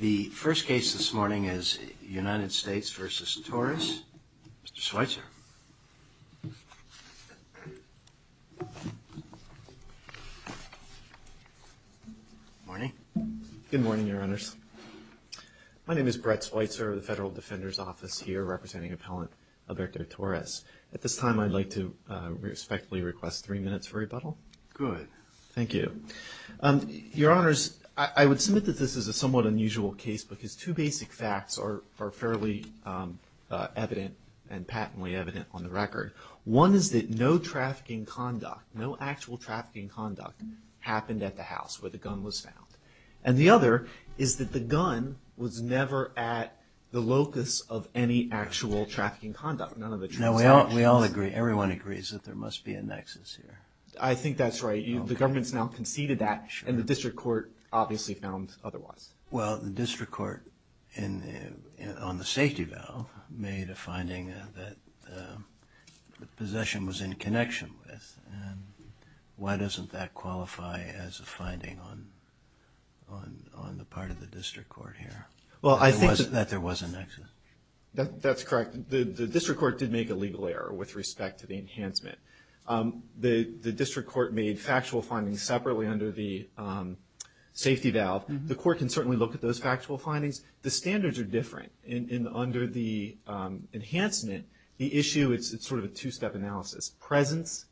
The first case this morning is United States v. Torres, Mr. Schweitzer. Good morning, Your Honors. My name is Brett Schweitzer of the Federal Defender's Office here, representing Appellant Alberto Torres. At this time, I'd like to respectfully request three minutes for rebuttal. Good. Thank you. Your Honors, I would submit that this is a somewhat unusual case because two basic facts are fairly evident and patently evident on the record. One is that no trafficking conduct, no actual trafficking conduct, happened at the house where the gun was found. And the other is that the gun was never at the locus of any actual trafficking conduct. No, we all agree, everyone agrees that there must be a nexus here. I think that's right. The government's now conceded that and the district court obviously found otherwise. Well, the district court on the safety valve made a finding that the possession was in connection with. Why doesn't that qualify as a finding on the part of the district court here? Well, I think that there was a nexus. That's correct. The district court did make a legal error with respect to the enhancement. The district court made factual findings separately under the safety valve. The court can certainly look at those factual findings. The standards are different under the enhancement. The issue, it's sort of a two-step analysis, presence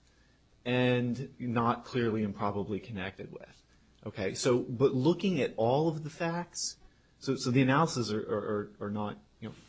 and not clearly and probably connected with. But looking at all of the facts, so the analysis are not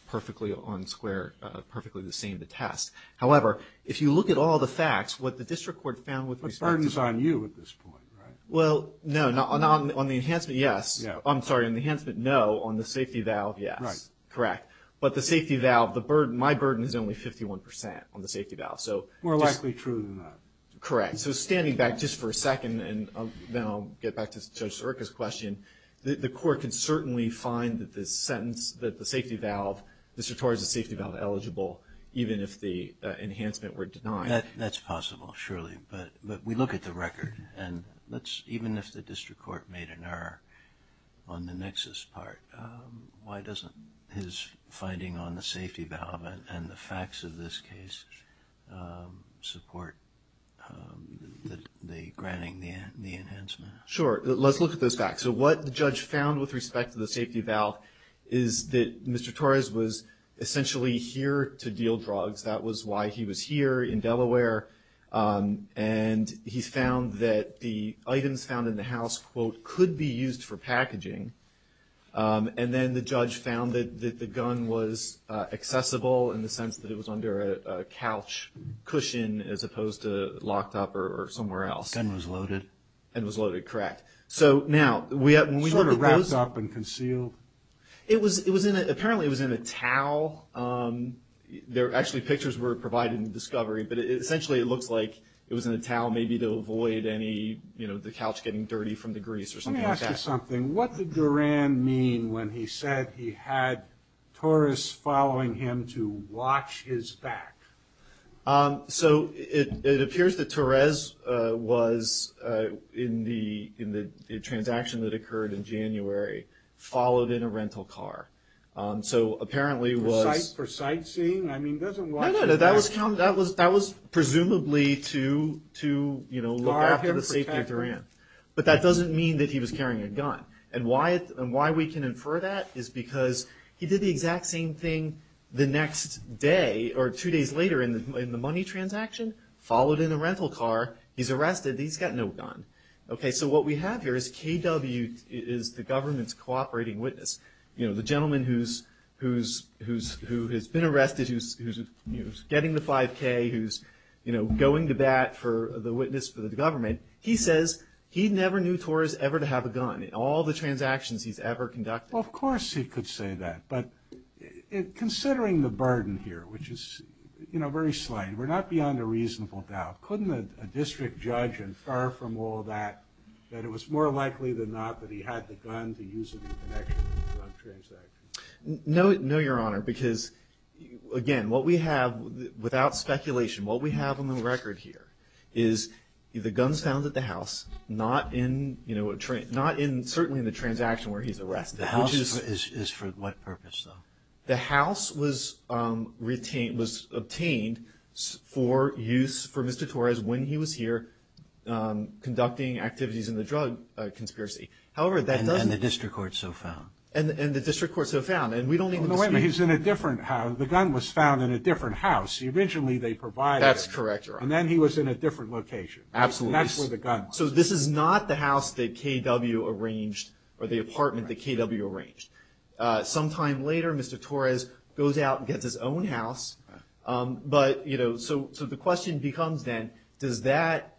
perfectly on square, perfectly the same to test. However, if you look at all the facts, what the district court found with respect to... But the burden's on you at this point, right? Well, no. On the enhancement, yes. I'm sorry, on the enhancement, no. On the safety valve, yes. Right. Correct. But the safety valve, my burden is only 51% on the safety valve. More likely true than not. Correct. So standing back just for a second, and then I'll get back to Judge Sierka's question, the court can certainly find that the sentence, that the safety valve, district court has a safety valve eligible even if the enhancement were denied. That's possible, surely. But we look at the record. And even if the district court made an error on the nexus part, why doesn't his finding on the safety valve and the facts of this case support the granting the enhancement? Sure. Let's look at those facts. So what the judge found with respect to the safety valve is that Mr. Torres was essentially here to deal drugs. That was why he was here in Delaware. And he found that the items found in the house, quote, could be used for packaging. And then the judge found that the gun was accessible in the sense that it was under a couch cushion, as opposed to locked up or somewhere else. The gun was loaded. And was loaded, correct. Sort of wrapped up and concealed? Apparently it was in a towel. Actually, pictures were provided in the discovery, but essentially it looks like it was in a towel maybe to avoid any, you know, the couch getting dirty from the grease or something like that. Let me ask you something. What did Duran mean when he said he had Torres following him to watch his back? So it appears that Torres was, in the transaction that occurred in January, followed in a rental car. So apparently it was. For sightseeing? I mean, doesn't watch his back. No, no, no. That was presumably to, you know, look after the safety of Duran. But that doesn't mean that he was carrying a gun. And why we can infer that is because he did the exact same thing the next day, or two days later in the money transaction, followed in a rental car. He's arrested. He's got no gun. Okay, so what we have here is KW is the government's cooperating witness. You know, the gentleman who's been arrested, who's getting the 5K, who's, you know, going to bat for the witness for the government. He says he never knew Torres ever to have a gun in all the transactions he's ever conducted. Well, of course he could say that. But considering the burden here, which is, you know, very slight, we're not beyond a reasonable doubt. Couldn't a district judge infer from all that that it was more likely than not that he had the gun to use it in connection with the drug transaction? No, Your Honor, because, again, what we have, without speculation, what we have on the record here is the gun's found at the house, not in, you know, certainly in the transaction where he's arrested. The house is for what purpose, though? The house was obtained for use for Mr. Torres when he was here conducting activities in the drug conspiracy. And the district court so found. And the district court so found. No, wait a minute, he's in a different house. The gun was found in a different house. Originally they provided it. That's correct, Your Honor. And then he was in a different location. Absolutely. That's where the gun was. So this is not the house that KW arranged or the apartment that KW arranged. Sometime later, Mr. Torres goes out and gets his own house. But, you know, so the question becomes then, does that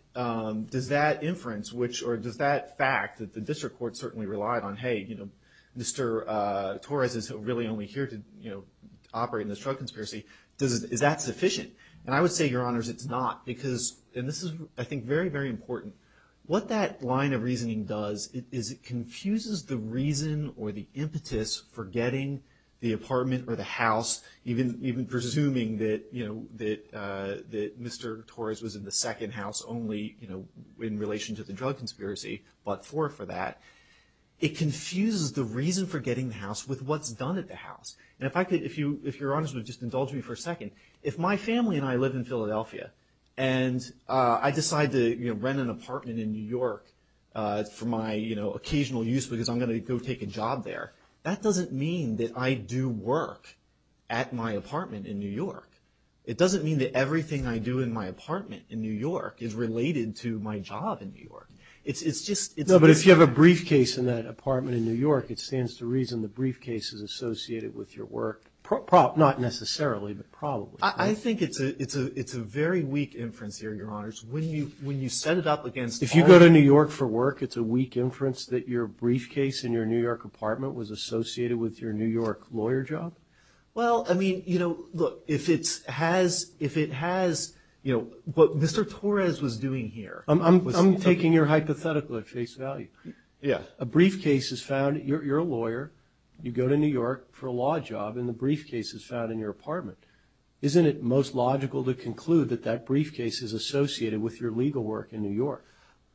inference, or does that fact that the district court certainly relied on, hey, you know, Mr. Torres is really only here to, you know, operate in this drug conspiracy, is that sufficient? And I would say, Your Honors, it's not. And this is, I think, very, very important. What that line of reasoning does is it confuses the reason or the impetus for getting the apartment or the house, even presuming that, you know, that Mr. Torres was in the second house only, you know, in relation to the drug conspiracy, but for that. It confuses the reason for getting the house with what's done at the house. And if I could, if Your Honors would just indulge me for a second, if my family and I live in Philadelphia and I decide to, you know, rent an apartment in New York for my, you know, occasional use because I'm going to go take a job there, that doesn't mean that I do work at my apartment in New York. It doesn't mean that everything I do in my apartment in New York is related to my job in New York. It's just – No, but if you have a briefcase in that apartment in New York, it stands to reason the briefcase is associated with your work, not necessarily, but probably. I think it's a very weak inference here, Your Honors. When you set it up against – If you go to New York for work, it's a weak inference that your briefcase in your New York apartment was associated with your New York lawyer job? Well, I mean, you know, look, if it has, you know, what Mr. Torres was doing here – I'm taking your hypothetical at face value. Yeah. A briefcase is found – you're a lawyer. You go to New York for a law job, and the briefcase is found in your apartment. Isn't it most logical to conclude that that briefcase is associated with your legal work in New York?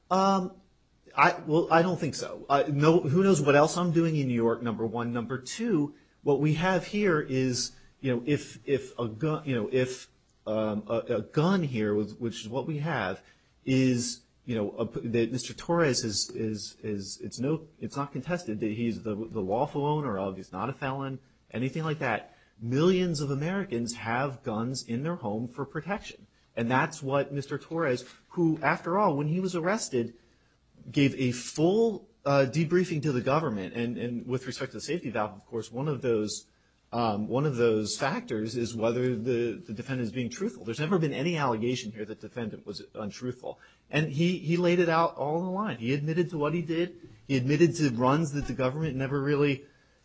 Well, I don't think so. Who knows what else I'm doing in New York, number one. Number two, what we have here is, you know, if a gun here, which is what we have, is, you know, Mr. Torres is – it's not contested that he's the lawful owner of, he's not a felon, anything like that. Millions of Americans have guns in their home for protection. And that's what Mr. Torres, who, after all, when he was arrested, gave a full debriefing to the government. And with respect to the safety valve, of course, one of those factors is whether the defendant is being truthful. There's never been any allegation here that the defendant was untruthful. And he laid it out all in a line. He admitted to what he did. He admitted to runs that the government never really,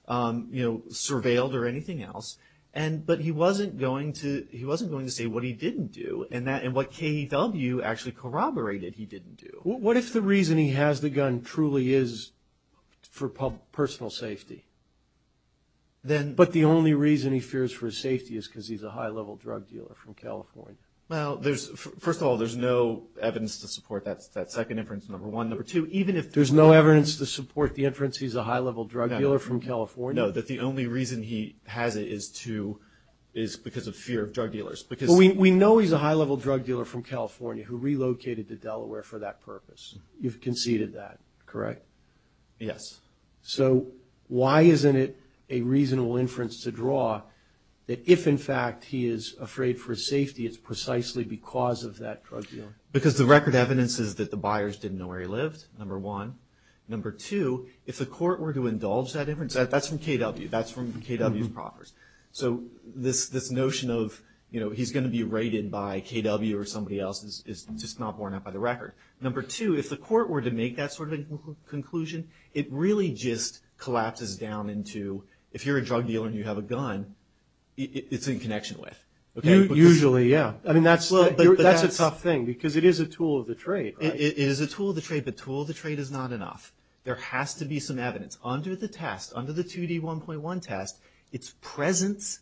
you know, surveilled or anything else. But he wasn't going to say what he didn't do and what KEW actually corroborated he didn't do. What if the reason he has the gun truly is for personal safety? But the only reason he fears for his safety is because he's a high-level drug dealer from California? Well, first of all, there's no evidence to support that second inference, number one. Number two, even if – There's no evidence to support the inference he's a high-level drug dealer from California? No, that the only reason he has it is to – is because of fear of drug dealers. Because – Well, we know he's a high-level drug dealer from California who relocated to Delaware for that purpose. You've conceded that, correct? Yes. So why isn't it a reasonable inference to draw that if, in fact, he is afraid for his safety, it's precisely because of that drug dealer? Because the record evidence is that the buyers didn't know where he lived, number one. Number two, if the court were to indulge that inference – That's from KW. That's from KW's proffers. So this notion of he's going to be raided by KW or somebody else is just not borne out by the record. Number two, if the court were to make that sort of conclusion, it really just collapses down into if you're a drug dealer and you have a gun, it's in connection with. Usually, yeah. I mean, that's a tough thing because it is a tool of the trade. It is a tool of the trade, but tool of the trade is not enough. There has to be some evidence. Under the test, under the 2D1.1 test, it's presence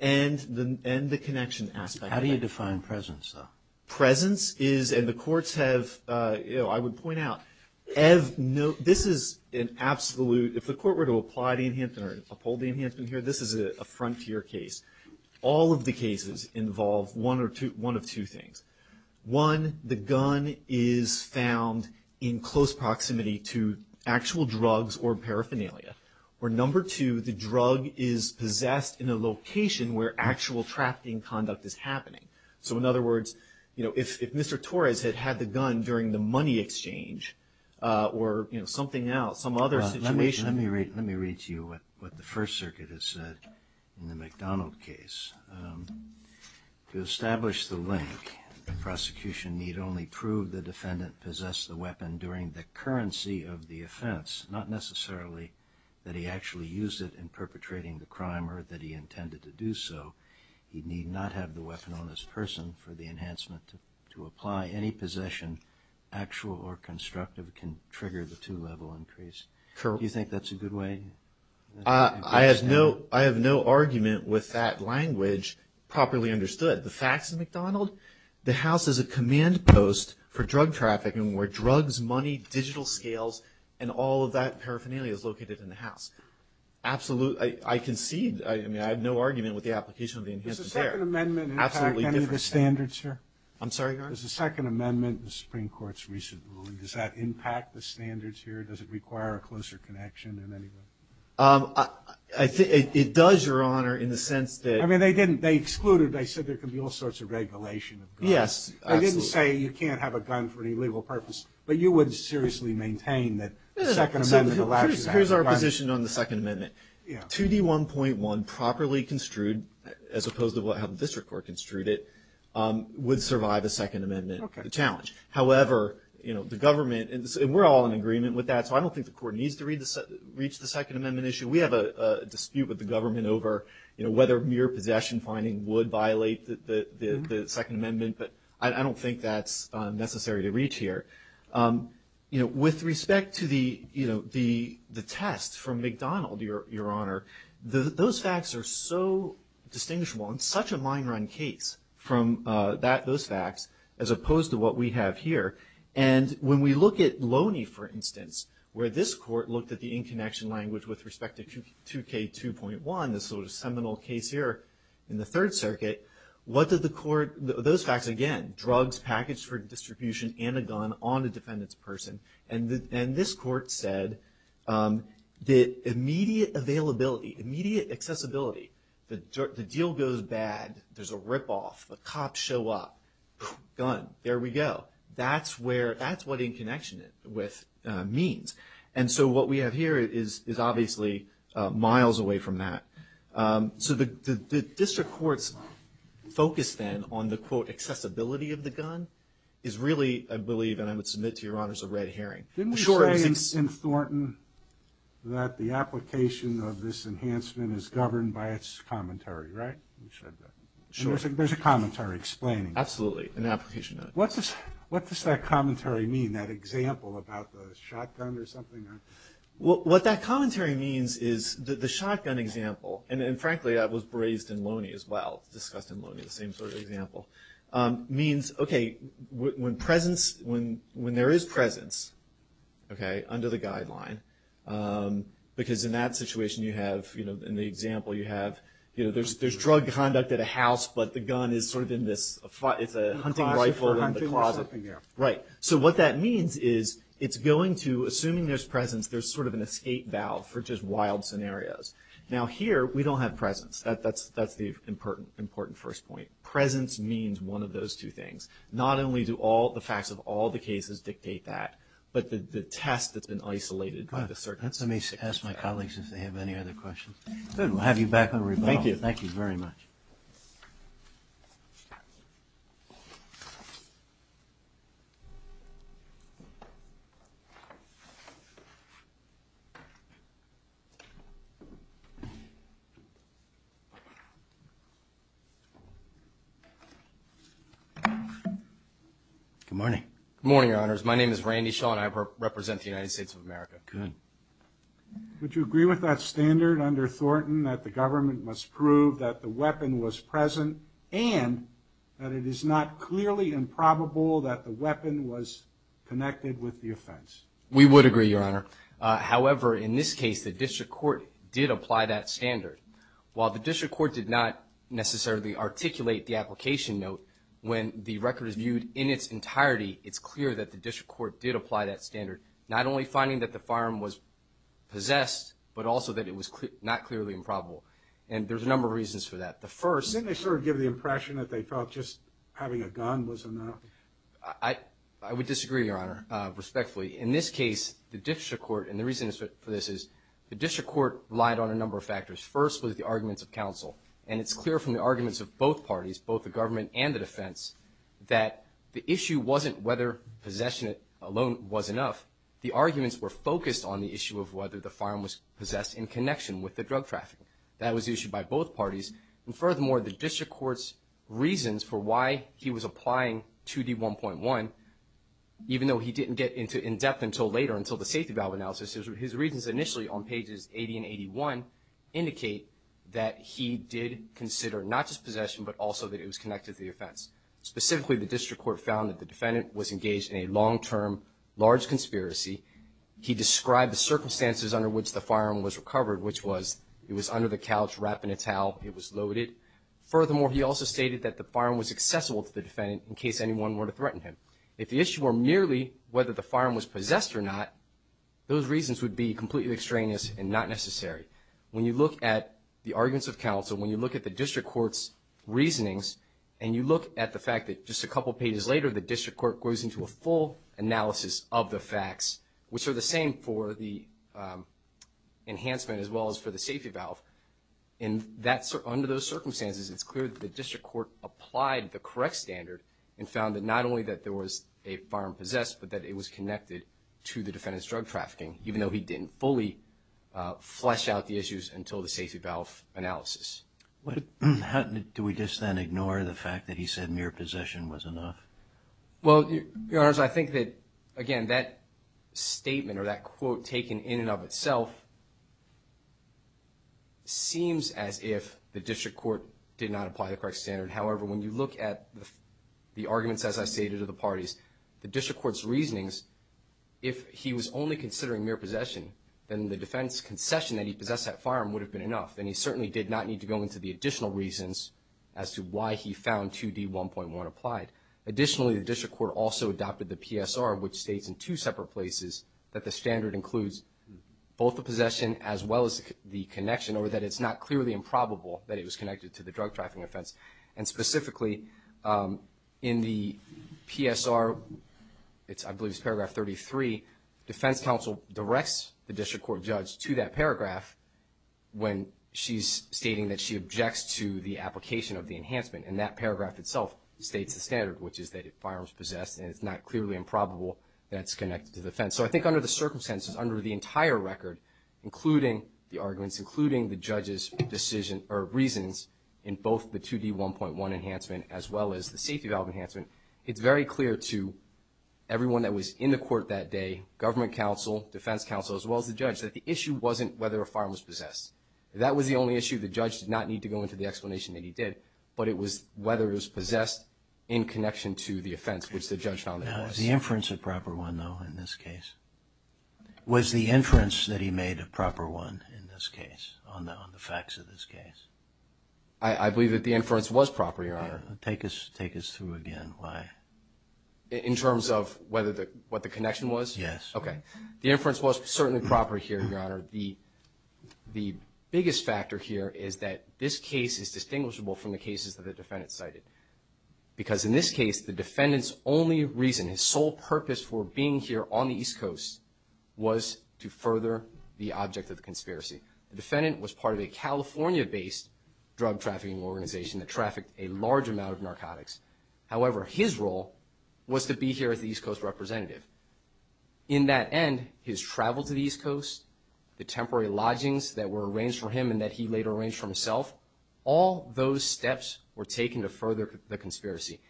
and the connection aspect. How do you define presence, though? Presence is – and the courts have, you know, I would point out, this is an absolute – if the court were to apply the enhancement or uphold the enhancement here, this is a frontier case. All of the cases involve one of two things. One, the gun is found in close proximity to actual drugs or paraphernalia. Or number two, the drug is possessed in a location where actual trafficking conduct is happening. So in other words, you know, if Mr. Torres had had the gun during the money exchange or, you know, something else, some other situation. Let me read to you what the First Circuit has said in the McDonald case. To establish the link, the prosecution need only prove the defendant possessed the weapon during the currency of the offense, not necessarily that he actually used it in perpetrating the crime or that he intended to do so. He need not have the weapon on his person for the enhancement. To apply any possession, actual or constructive, can trigger the two-level increase. Do you think that's a good way? I have no argument with that language properly understood. The facts of McDonald, the house is a command post for drug trafficking where drugs, money, digital scales, and all of that paraphernalia is located in the house. I concede, I mean, I have no argument with the application of the enhancement there. Does the Second Amendment impact any of the standards here? I'm sorry, Your Honor? Does the Second Amendment in the Supreme Court's recent ruling, does that impact the standards here? Does it require a closer connection in any way? It does, Your Honor, in the sense that— I mean, they excluded, they said there could be all sorts of regulation of guns. Yes, absolutely. They didn't say you can't have a gun for any legal purpose, but you would seriously maintain that the Second Amendment allows you to have a gun. Here's our position on the Second Amendment. 2D1.1 properly construed, as opposed to how the District Court construed it, would survive a Second Amendment challenge. However, you know, the government, and we're all in agreement with that, so I don't think the Court needs to reach the Second Amendment issue. We have a dispute with the government over, you know, whether mere possession finding would violate the Second Amendment, but I don't think that's necessary to reach here. You know, with respect to the, you know, the test from McDonald, Your Honor, those facts are so distinguishable. It's such a mine run case from those facts, as opposed to what we have here. And when we look at Loney, for instance, where this Court looked at the in-connection language with respect to 2K2.1, this sort of seminal case here in the Third Circuit, what did the Court— those facts, again, drugs packaged for distribution and a gun on a defendant's person. And this Court said that immediate availability, immediate accessibility, the deal goes bad, there's a rip-off, the cops show up, gun, there we go. That's what in-connection means. And so what we have here is obviously miles away from that. So the District Court's focus then on the, quote, accessibility of the gun, is really, I believe, and I would submit to Your Honors, a red herring. Didn't we say in Thornton that the application of this enhancement is governed by its commentary, right? You said that. Sure. There's a commentary explaining it. Absolutely, an application of it. What does that commentary mean, that example about the shotgun or something? What that commentary means is that the shotgun example, and frankly that was raised in Loney as well, discussed in Loney, the same sort of example, means, okay, when there is presence under the guideline, because in that situation you have, in the example you have, there's drug conduct at a house but the gun is sort of in this, it's a hunting rifle in the closet. Right. So what that means is it's going to, assuming there's presence, there's sort of an escape valve for just wild scenarios. Now here, we don't have presence. That's the important first point. Presence means one of those two things. Not only do all the facts of all the cases dictate that, but the test that's been isolated by the circumstance. Let me ask my colleagues if they have any other questions. Good. We'll have you back on rebuttal. Thank you. Thank you very much. Good morning. Good morning, Your Honors. My name is Randy Shaw and I represent the United States of America. Good. Would you agree with that standard under Thornton, that the government must prove that the weapon was present and that it is not clearly improbable that the weapon was connected with the offense? We would agree, Your Honor. However, in this case, the district court did apply that standard. While the district court did not necessarily articulate the application note, when the record is viewed in its entirety, it's clear that the district court did apply that standard, not only finding that the firearm was possessed, but also that it was not clearly improbable. And there's a number of reasons for that. The first. Didn't they sort of give the impression that they felt just having a gun was enough? I would disagree, Your Honor, respectfully. In this case, the district court, and the reason for this is, the district court relied on a number of factors. First was the arguments of counsel. And it's clear from the arguments of both parties, both the government and the defense, that the issue wasn't whether possession alone was enough. The arguments were focused on the issue of whether the firearm was possessed in connection with the drug trafficking. That was the issue by both parties. And furthermore, the district court's reasons for why he was applying 2D1.1, even though he didn't get into in-depth until later, until the safety valve analysis, his reasons initially on pages 80 and 81 indicate that he did consider not just possession, but also that it was connected to the offense. Specifically, the district court found that the defendant was engaged in a long-term, large conspiracy. He described the circumstances under which the firearm was recovered, which was it was under the couch, wrapped in a towel, it was loaded. Furthermore, he also stated that the firearm was accessible to the defendant in case anyone were to threaten him. If the issue were merely whether the firearm was possessed or not, those reasons would be completely extraneous and not necessary. When you look at the arguments of counsel, when you look at the district court's reasonings, and you look at the fact that just a couple pages later, the district court goes into a full analysis of the facts, which are the same for the enhancement as well as for the safety valve. Under those circumstances, it's clear that the district court applied the correct standard and found that not only that there was a firearm possessed, but that it was connected to the defendant's drug trafficking, even though he didn't fully flesh out the issues until the safety valve analysis. Do we just then ignore the fact that he said mere possession was enough? Well, Your Honors, I think that, again, that statement or that quote taken in and of itself seems as if the district court did not apply the correct standard. However, when you look at the arguments, as I stated, of the parties, the district court's reasonings, if he was only considering mere possession, then the defense concession that he possessed that firearm would have been enough, and he certainly did not need to go into the additional reasons as to why he found 2D1.1 applied. Additionally, the district court also adopted the PSR, which states in two separate places, that the standard includes both the possession as well as the connection, or that it's not clearly improbable that it was connected to the drug trafficking offense. And specifically, in the PSR, I believe it's paragraph 33, defense counsel directs the district court judge to that paragraph when she's stating that she objects to the application of the enhancement. And that paragraph itself states the standard, which is that if a firearm is possessed and it's not clearly improbable that it's connected to the offense. So I think under the circumstances, under the entire record, including the arguments, in both the 2D1.1 enhancement as well as the safety valve enhancement, it's very clear to everyone that was in the court that day, government counsel, defense counsel, as well as the judge, that the issue wasn't whether a firearm was possessed. That was the only issue. The judge did not need to go into the explanation that he did, but it was whether it was possessed in connection to the offense, which the judge found it was. Was the inference a proper one, though, in this case? Was the inference that he made a proper one in this case on the facts of this case? I believe that the inference was proper, Your Honor. Take us through again why. In terms of what the connection was? Yes. Okay. The inference was certainly proper here, Your Honor. The biggest factor here is that this case is distinguishable from the cases that the defendant cited because in this case, the defendant's only reason, his sole purpose for being here on the East Coast was to further the object of the conspiracy. The defendant was part of a California-based drug trafficking organization that trafficked a large amount of narcotics. However, his role was to be here as the East Coast representative. In that end, his travel to the East Coast, the temporary lodgings that were arranged for him and that he later arranged for himself, all those steps were taken to further the conspiracy.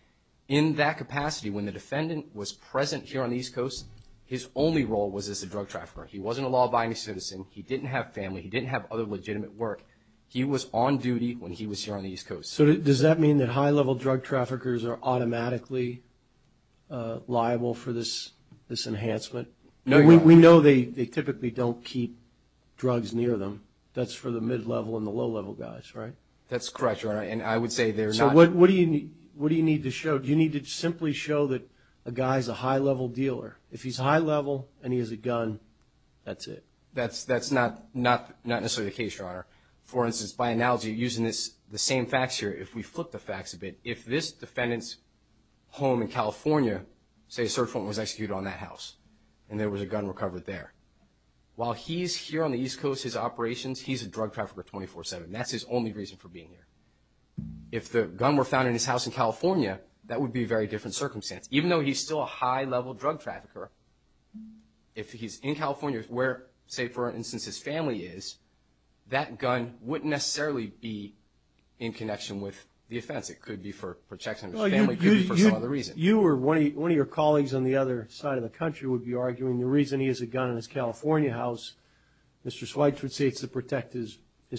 In that capacity, when the defendant was present here on the East Coast, his only role was as a drug trafficker. He wasn't a law-abiding citizen. He didn't have family. He didn't have other legitimate work. He was on duty when he was here on the East Coast. So does that mean that high-level drug traffickers are automatically liable for this enhancement? No, Your Honor. We know they typically don't keep drugs near them. That's for the mid-level and the low-level guys, right? That's correct, Your Honor, and I would say they're not. So what do you need to show? Do you need to simply show that a guy's a high-level dealer? If he's high-level and he has a gun, that's it. That's not necessarily the case, Your Honor. For instance, by analogy, using the same facts here, if we flip the facts a bit, if this defendant's home in California, say a search warrant was executed on that house, and there was a gun recovered there, while he's here on the East Coast, his operations, he's a drug trafficker 24-7. That's his only reason for being here. If the gun were found in his house in California, that would be a very different circumstance. Even though he's still a high-level drug trafficker, if he's in California where, say, for instance, his family is, that gun wouldn't necessarily be in connection with the offense. It could be for protection of his family. It could be for some other reason. You or one of your colleagues on the other side of the country would be arguing the reason he has a gun in his California house, Mr. Schweitz would say it's to protect his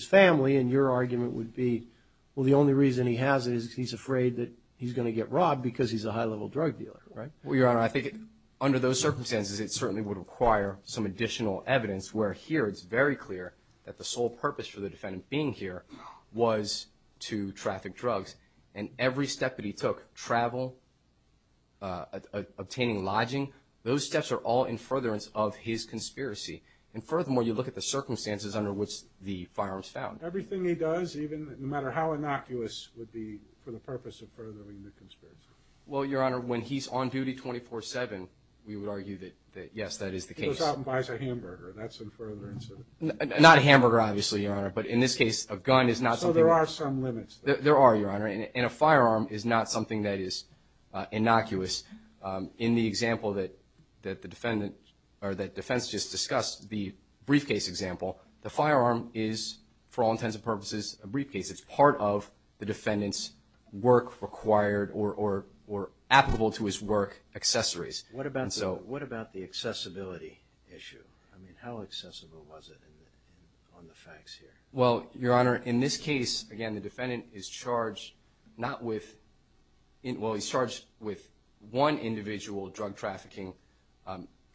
family, and your argument would be, well, the only reason he has it is he's afraid that he's going to get robbed because he's a high-level drug dealer, right? Well, Your Honor, I think under those circumstances, it certainly would require some additional evidence, where here it's very clear that the sole purpose for the defendant being here was to traffic drugs. And every step that he took, travel, obtaining lodging, those steps are all in furtherance of his conspiracy. And furthermore, you look at the circumstances under which the firearms found. Everything he does, even no matter how innocuous, would be for the purpose of furthering the conspiracy. Well, Your Honor, when he's on duty 24-7, we would argue that, yes, that is the case. He goes out and buys a hamburger. That's in furtherance of it. Not a hamburger, obviously, Your Honor. But in this case, a gun is not something that's... So there are some limits. There are, Your Honor. And a firearm is not something that is innocuous. In the example that the defendant or that defense just discussed, the briefcase example, the firearm is, for all intents and purposes, a briefcase. It's part of the defendant's work required or applicable to his work accessories. What about the accessibility issue? I mean, how accessible was it on the facts here? Well, Your Honor, in this case, again, the defendant is charged not with... Well, he's charged with one individual drug trafficking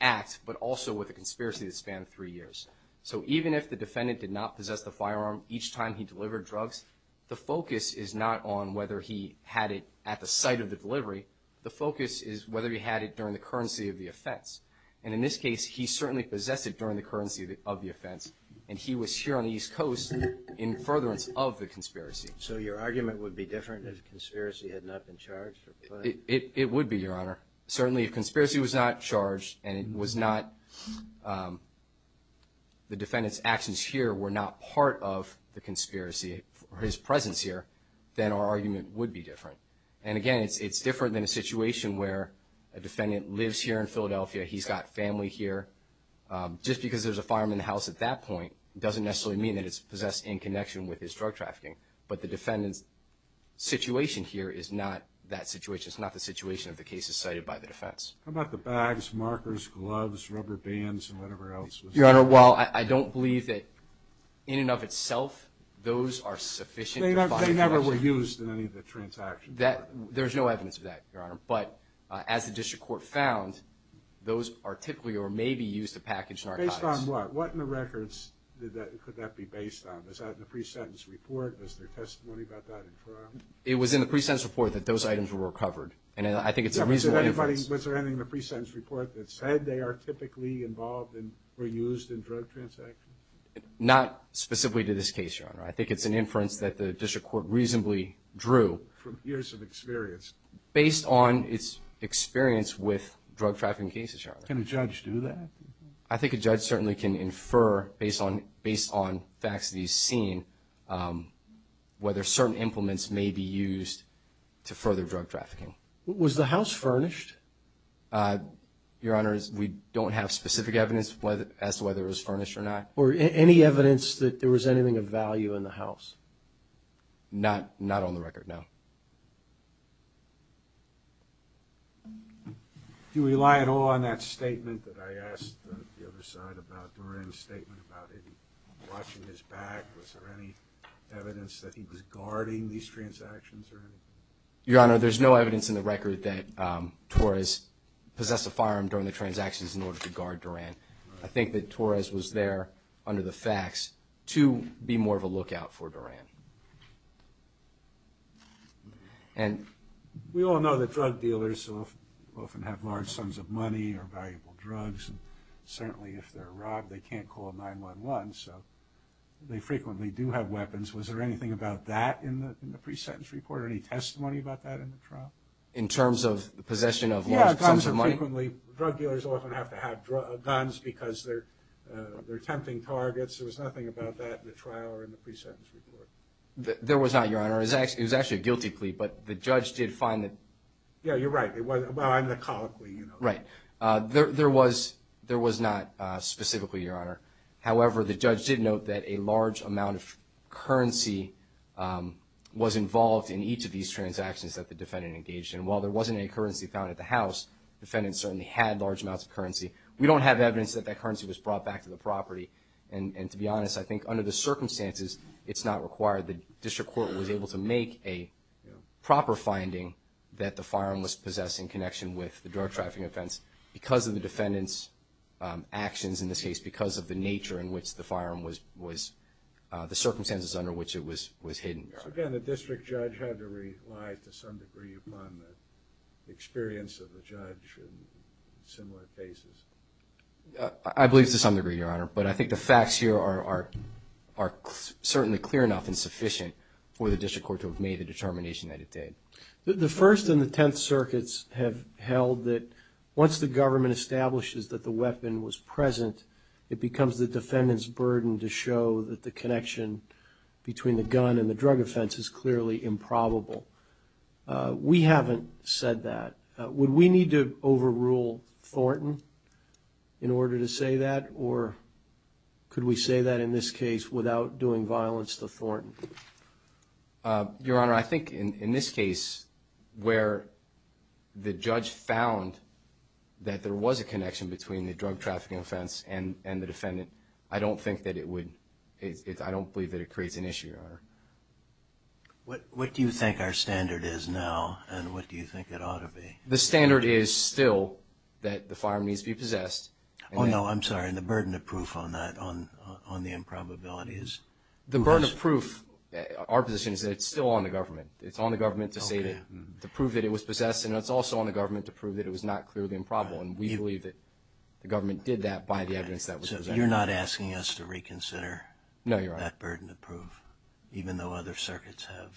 act, but also with a conspiracy that spanned three years. So even if the defendant did not possess the firearm each time he delivered drugs, the focus is not on whether he had it at the site of the delivery. The focus is whether he had it during the currency of the offense. And in this case, he certainly possessed it during the currency of the offense, and he was here on the East Coast in furtherance of the conspiracy. So your argument would be different if the conspiracy had not been charged? It would be, Your Honor. Certainly, if conspiracy was not charged and it was not the defendant's actions here were not part of the conspiracy, his presence here, then our argument would be different. And, again, it's different than a situation where a defendant lives here in Philadelphia, he's got family here. Just because there's a firearm in the house at that point doesn't necessarily mean that it's possessed in connection with his drug trafficking. But the defendant's situation here is not that situation. It's not the situation of the cases cited by the defense. How about the bags, markers, gloves, rubber bands, and whatever else was there? Your Honor, while I don't believe that in and of itself those are sufficient... They never were used in any of the transactions. There's no evidence of that, Your Honor. But as the district court found, those are typically or may be used to package an archivist. Based on what? What in the records could that be based on? Is that in the pre-sentence report? Is there testimony about that in trial? It was in the pre-sentence report that those items were recovered. And I think it's a reasonable inference. Was there anything in the pre-sentence report that said they are typically involved or used in drug transactions? Not specifically to this case, Your Honor. I think it's an inference that the district court reasonably drew... From years of experience. Based on its experience with drug trafficking cases, Your Honor. Can a judge do that? I think a judge certainly can infer based on facts that he's seen whether certain implements may be used to further drug trafficking. Was the house furnished? Your Honor, we don't have specific evidence as to whether it was furnished or not. Or any evidence that there was anything of value in the house? Not on the record, no. Do you rely at all on that statement that I asked the other side about, Doran's statement about him watching his back? Was there any evidence that he was guarding these transactions or anything? Your Honor, there's no evidence in the record that Torres possessed a firearm during the transactions in order to guard Doran. I think that Torres was there under the facts to be more of a lookout for Doran. We all know that drug dealers often have large sums of money or valuable drugs. Certainly, if they're robbed, they can't call 911, so they frequently do have weapons. Was there anything about that in the pre-sentence report? Any testimony about that in the trial? In terms of the possession of large sums of money? Frequently, drug dealers often have to have guns because they're tempting targets. There was nothing about that in the trial or in the pre-sentence report. There was not, Your Honor. It was actually a guilty plea, but the judge did find that. Yeah, you're right. Well, I'm the colloquy, you know. Right. There was not specifically, Your Honor. However, the judge did note that a large amount of currency was involved in each of these transactions that the defendant engaged in. And while there wasn't any currency found at the house, the defendant certainly had large amounts of currency. We don't have evidence that that currency was brought back to the property. And to be honest, I think under the circumstances, it's not required. The district court was able to make a proper finding that the firearm was possessed in connection with the drug trafficking offense because of the defendant's actions, in this case because of the nature in which the firearm was, the circumstances under which it was hidden. So, again, the district judge had to rely to some degree upon the experience of the judge in similar cases. I believe to some degree, Your Honor, but I think the facts here are certainly clear enough and sufficient for the district court to have made the determination that it did. The First and the Tenth Circuits have held that once the government establishes that the weapon was present, it becomes the defendant's burden to show that the connection between the gun and the drug offense is clearly improbable. We haven't said that. Would we need to overrule Thornton in order to say that, or could we say that in this case without doing violence to Thornton? Your Honor, I think in this case where the judge found that there was a connection between the drug trafficking offense and the defendant, I don't think that it would, I don't believe that it creates an issue, Your Honor. What do you think our standard is now, and what do you think it ought to be? The standard is still that the firearm needs to be possessed. Oh, no, I'm sorry, and the burden of proof on that, on the improbability is? The burden of proof, our position is that it's still on the government. It's on the government to say that, to prove that it was possessed, and it's also on the government to prove that it was not clearly improbable, and we believe that the government did that by the evidence that was there. You're not asking us to reconsider that burden of proof, even though other circuits have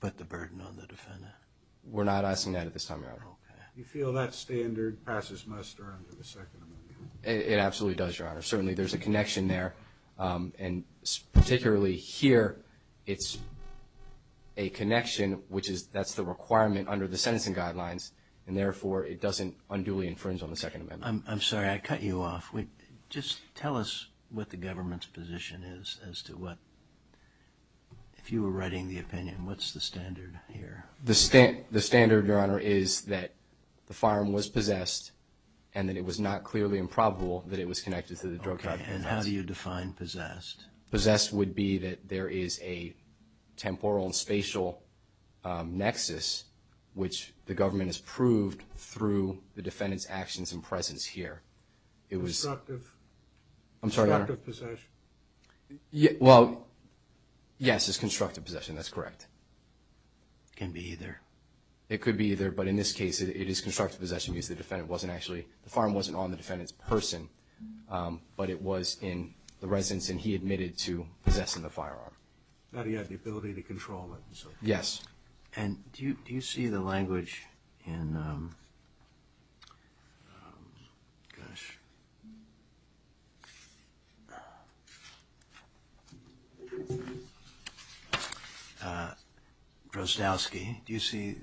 put the burden on the defendant? We're not asking that at this time, Your Honor. Do you feel that standard passes muster under the Second Amendment? It absolutely does, Your Honor. Certainly there's a connection there, and particularly here it's a connection, which is that's the requirement under the sentencing guidelines, and therefore it doesn't unduly infringe on the Second Amendment. I'm sorry, I cut you off. Just tell us what the government's position is as to what, if you were writing the opinion, what's the standard here? The standard, Your Honor, is that the firearm was possessed and that it was not clearly improbable that it was connected to the drug cartel. Okay, and how do you define possessed? Possessed would be that there is a temporal and spatial nexus which the government has proved through the defendant's actions and presence here. Constructive? I'm sorry, Your Honor? Constructive possession? Well, yes, it's constructive possession, that's correct. It can be either. It could be either, but in this case it is constructive possession because the firearm wasn't on the defendant's person, but it was in the residence and he admitted to possessing the firearm. Now he had the ability to control it. Yes. And do you see the language in Drozdowski? Do you see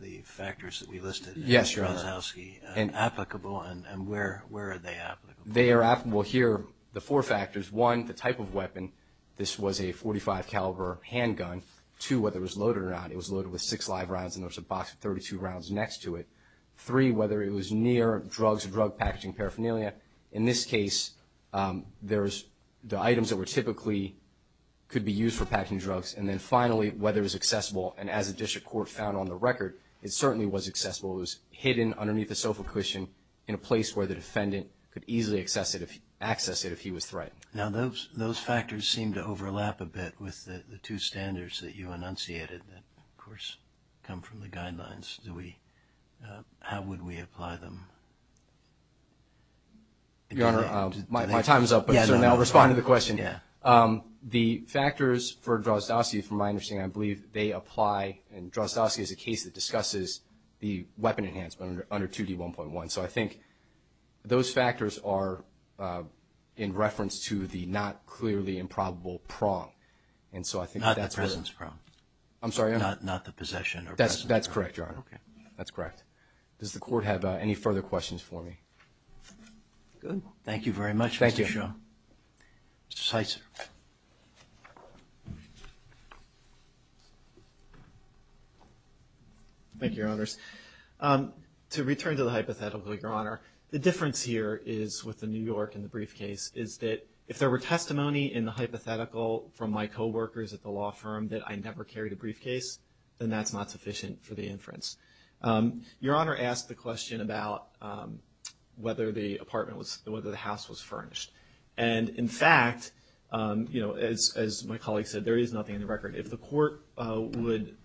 the factors that we listed in Drozdowski applicable, and where are they applicable? They are applicable here, the four factors. One, the type of weapon. This was a .45 caliber handgun. Two, whether it was loaded or not. It was loaded with six live rounds and there was a box of 32 rounds next to it. Three, whether it was near drugs or drug packaging paraphernalia. In this case, the items that were typically could be used for packing drugs. And then finally, whether it was accessible. And as the district court found on the record, it certainly was accessible. It was hidden underneath the sofa cushion in a place where the defendant could easily access it if he was threatened. Now those factors seem to overlap a bit with the two standards that you enunciated that, of course, come from the guidelines. How would we apply them? Your Honor, my time is up, but I'll respond to the question. The factors for Drozdowski, from my understanding, I believe they apply, and Drozdowski is a case that discusses the weapon enhancement under 2D1.1. So I think those factors are in reference to the not clearly improbable prong. Not the presence prong. I'm sorry, Your Honor? Not the possession or presence prong. That's correct, Your Honor. Okay. That's correct. Does the court have any further questions for me? Thank you very much, Mr. Shum. Thank you. Mr. Sizer. Thank you, Your Honors. To return to the hypothetical, Your Honor, the difference here is with the New York and the briefcase is that if there were testimony in the hypothetical from my co-workers at the law firm that I never carried a briefcase, then that's not sufficient for the inference. Your Honor asked the question about whether the house was furnished. And, in fact, as my colleague said, there is nothing in the record. If the court would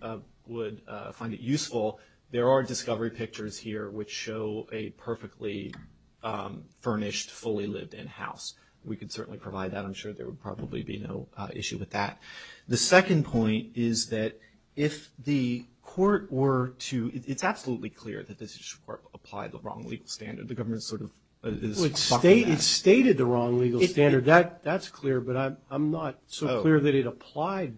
find it useful, there are discovery pictures here which show a perfectly furnished, fully lived-in house. We could certainly provide that. I'm sure there would probably be no issue with that. The second point is that if the court were to – it's absolutely clear that this court applied the wrong legal standard. The government sort of is talking that. It stated the wrong legal standard. That's clear, but I'm not so clear that it applied.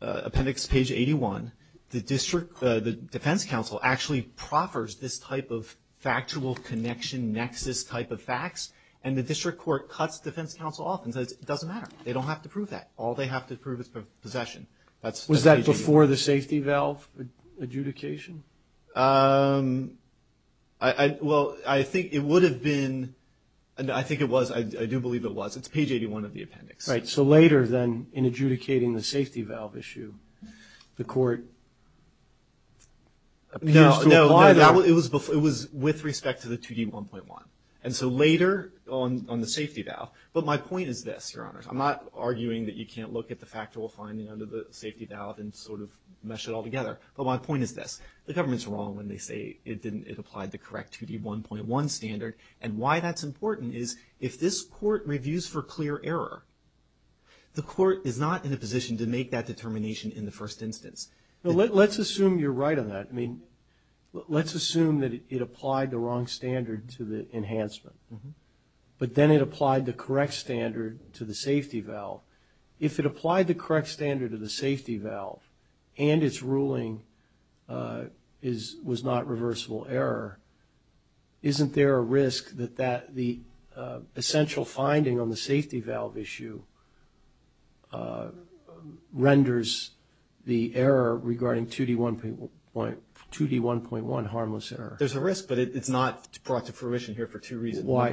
Appendix page 81, the defense counsel actually proffers this type of factual connection nexus type of facts, and the district court cuts defense counsel off and says it doesn't matter. They don't have to prove that. All they have to prove is possession. Was that before the safety valve adjudication? Well, I think it would have been – I think it was. I do believe it was. It's page 81 of the appendix. Right. So later, then, in adjudicating the safety valve issue, the court appears to apply that. No, no. It was with respect to the 2D1.1. And so later on the safety valve. But my point is this, Your Honors. I'm not arguing that you can't look at the factual finding under the safety valve and sort of mesh it all together. But my point is this, the government's wrong when they say it didn't – it applied the correct 2D1.1 standard. And why that's important is if this court reviews for clear error, the court is not in a position to make that determination in the first instance. Let's assume you're right on that. I mean, let's assume that it applied the wrong standard to the enhancement, but then it applied the correct standard to the safety valve. If it applied the correct standard to the safety valve and its ruling was not reversible error, isn't there a risk that the essential finding on the safety valve issue renders the error regarding 2D1.1 harmless error? There's a risk, but it's not brought to fruition here for two reasons. Why?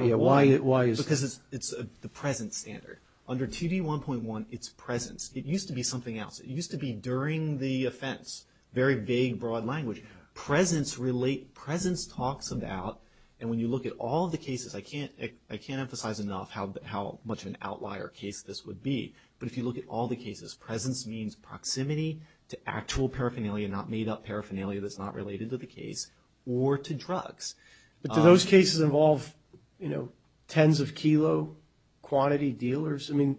Because it's the present standard. Under 2D1.1, it's presence. It used to be something else. It used to be during the offense. Very vague, broad language. Presence talks about – and when you look at all of the cases, I can't emphasize enough how much of an outlier case this would be. But if you look at all the cases, presence means proximity to actual paraphernalia, not made-up paraphernalia that's not related to the case, or to drugs. But do those cases involve tens of kilo quantity dealers? I mean,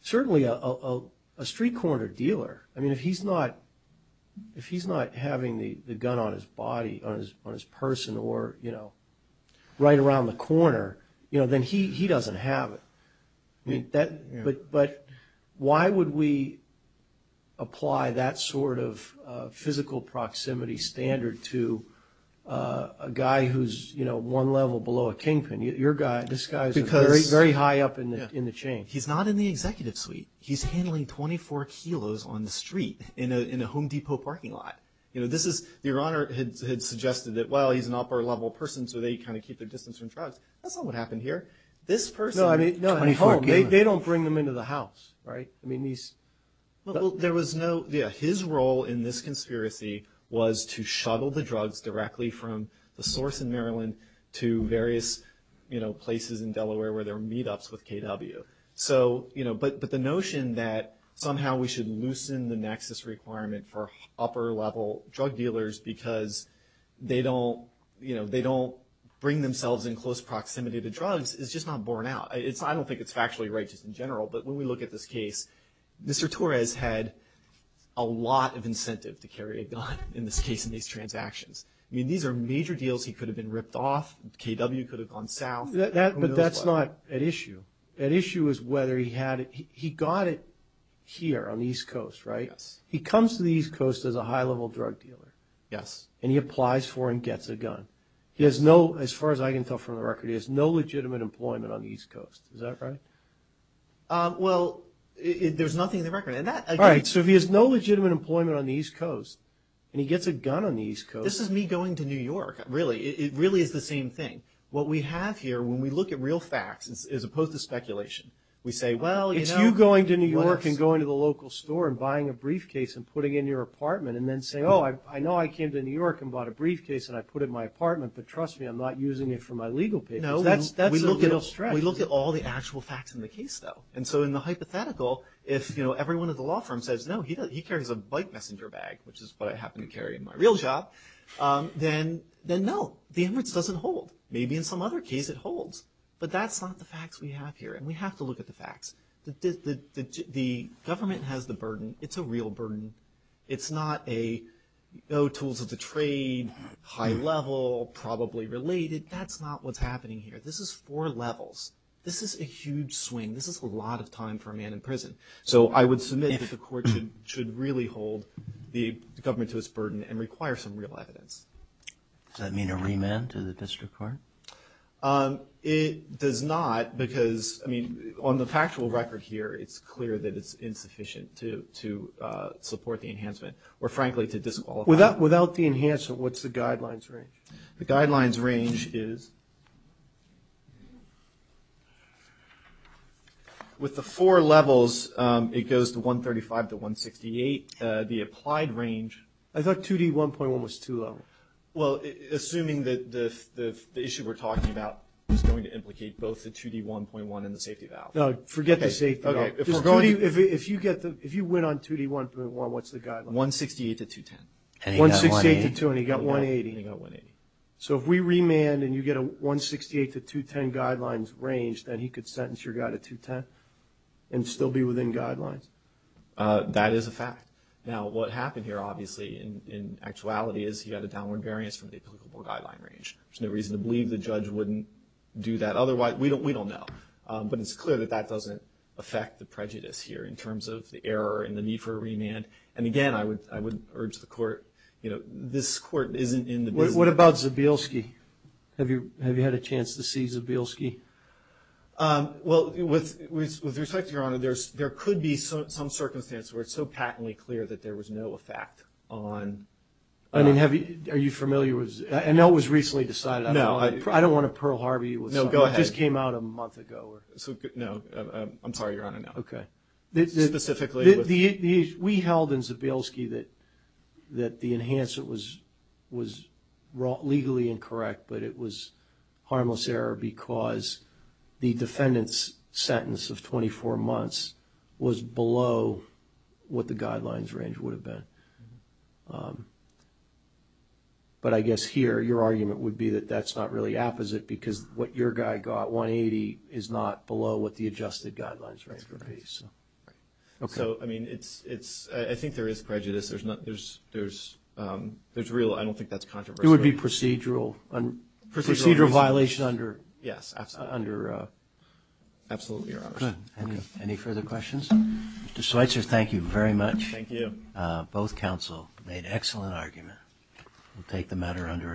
certainly a street-corner dealer. I mean, if he's not having the gun on his body, on his person, or right around the corner, then he doesn't have it. But why would we apply that sort of physical proximity standard to a guy who's one level below a kingpin? Your guy, this guy is very high up in the chain. He's not in the executive suite. He's handling 24 kilos on the street in a Home Depot parking lot. Your Honor had suggested that, well, he's an upper-level person, so they kind of keep their distance from drugs. That's not what happened here. This person at home, they don't bring them into the house, right? I mean, these – Well, there was no – yeah, his role in this conspiracy was to shuttle the drugs directly from the source in Maryland to various places in Delaware where there were meet-ups with KW. So, you know, but the notion that somehow we should loosen the nexus requirement for upper-level drug dealers because they don't bring themselves in close proximity to drugs is just not borne out. I don't think it's factually righteous in general, but when we look at this case, Mr. Torres had a lot of incentive to carry a gun in this case in these transactions. I mean, these are major deals he could have been ripped off. KW could have gone south. But that's not at issue. At issue is whether he had – he got it here on the East Coast, right? Yes. He comes to the East Coast as a high-level drug dealer. Yes. And he applies for and gets a gun. He has no – as far as I can tell from the record, he has no legitimate employment on the East Coast. Is that right? Well, there's nothing in the record. All right, so if he has no legitimate employment on the East Coast and he gets a gun on the East Coast – This is me going to New York, really. It really is the same thing. What we have here, when we look at real facts as opposed to speculation, we say, well, you know – It's you going to New York and going to the local store and buying a briefcase and putting it in your apartment and then saying, oh, I know I came to New York and bought a briefcase and I put it in my apartment, but trust me, I'm not using it for my legal papers. No, we look at all the actual facts in the case, though. And so in the hypothetical, if, you know, everyone at the law firm says, no, he carries a bike messenger bag, which is what I happen to carry in my real job, then no, the Emirates doesn't hold. Maybe in some other case it holds. But that's not the facts we have here, and we have to look at the facts. The government has the burden. It's a real burden. It's not a no tools of the trade, high level, probably related. That's not what's happening here. This is four levels. This is a huge swing. This is a lot of time for a man in prison. So I would submit that the court should really hold the government to its burden and require some real evidence. Does that mean a remand to the district court? It does not because, I mean, on the factual record here, it's clear that it's insufficient to support the enhancement or, frankly, to disqualify. Without the enhancement, what's the guidelines range? The guidelines range is with the four levels, it goes to 135 to 168. The applied range. I thought 2D1.1 was too low. Well, assuming that the issue we're talking about is going to implicate both the 2D1.1 and the safety valve. No, forget the safety valve. If you went on 2D1.1, what's the guideline? 168 to 210. 168 to 210. He got 180. He got 180. So if we remand and you get a 168 to 210 guidelines range, then he could sentence your guy to 210 and still be within guidelines? That is a fact. Now, what happened here, obviously, in actuality, is he had a downward variance from the applicable guideline range. There's no reason to believe the judge wouldn't do that. Otherwise, we don't know. But it's clear that that doesn't affect the prejudice here in terms of the error and the need for a remand. And, again, I would urge the court, you know, this court isn't in the business. What about Zabielski? Have you had a chance to see Zabielski? Well, with respect to Your Honor, there could be some circumstance where it's so patently clear that there was no effect on... I mean, are you familiar with Zabielski? I know it was recently decided. No. I don't want to Pearl Harvey you with something that just came out a month ago. No. I'm sorry, Your Honor. Okay. Specifically... We held in Zabielski that the enhancement was legally incorrect, but it was harmless error because the defendant's sentence of 24 months was below what the guidelines range would have been. But I guess here, your argument would be that that's not really apposite because what your guy got, 180, is not below what the adjusted guidelines range would be. That's correct. Okay. So, I mean, it's... I think there is prejudice. There's real... I don't think that's controversial. It would be procedural. Procedural... Procedural violation under... Yes, absolutely. Under... Absolutely, Your Honor. Good. Any further questions? Mr. Schweitzer, thank you very much. Thank you. Both counsel made excellent argument. We'll take the matter under advisement.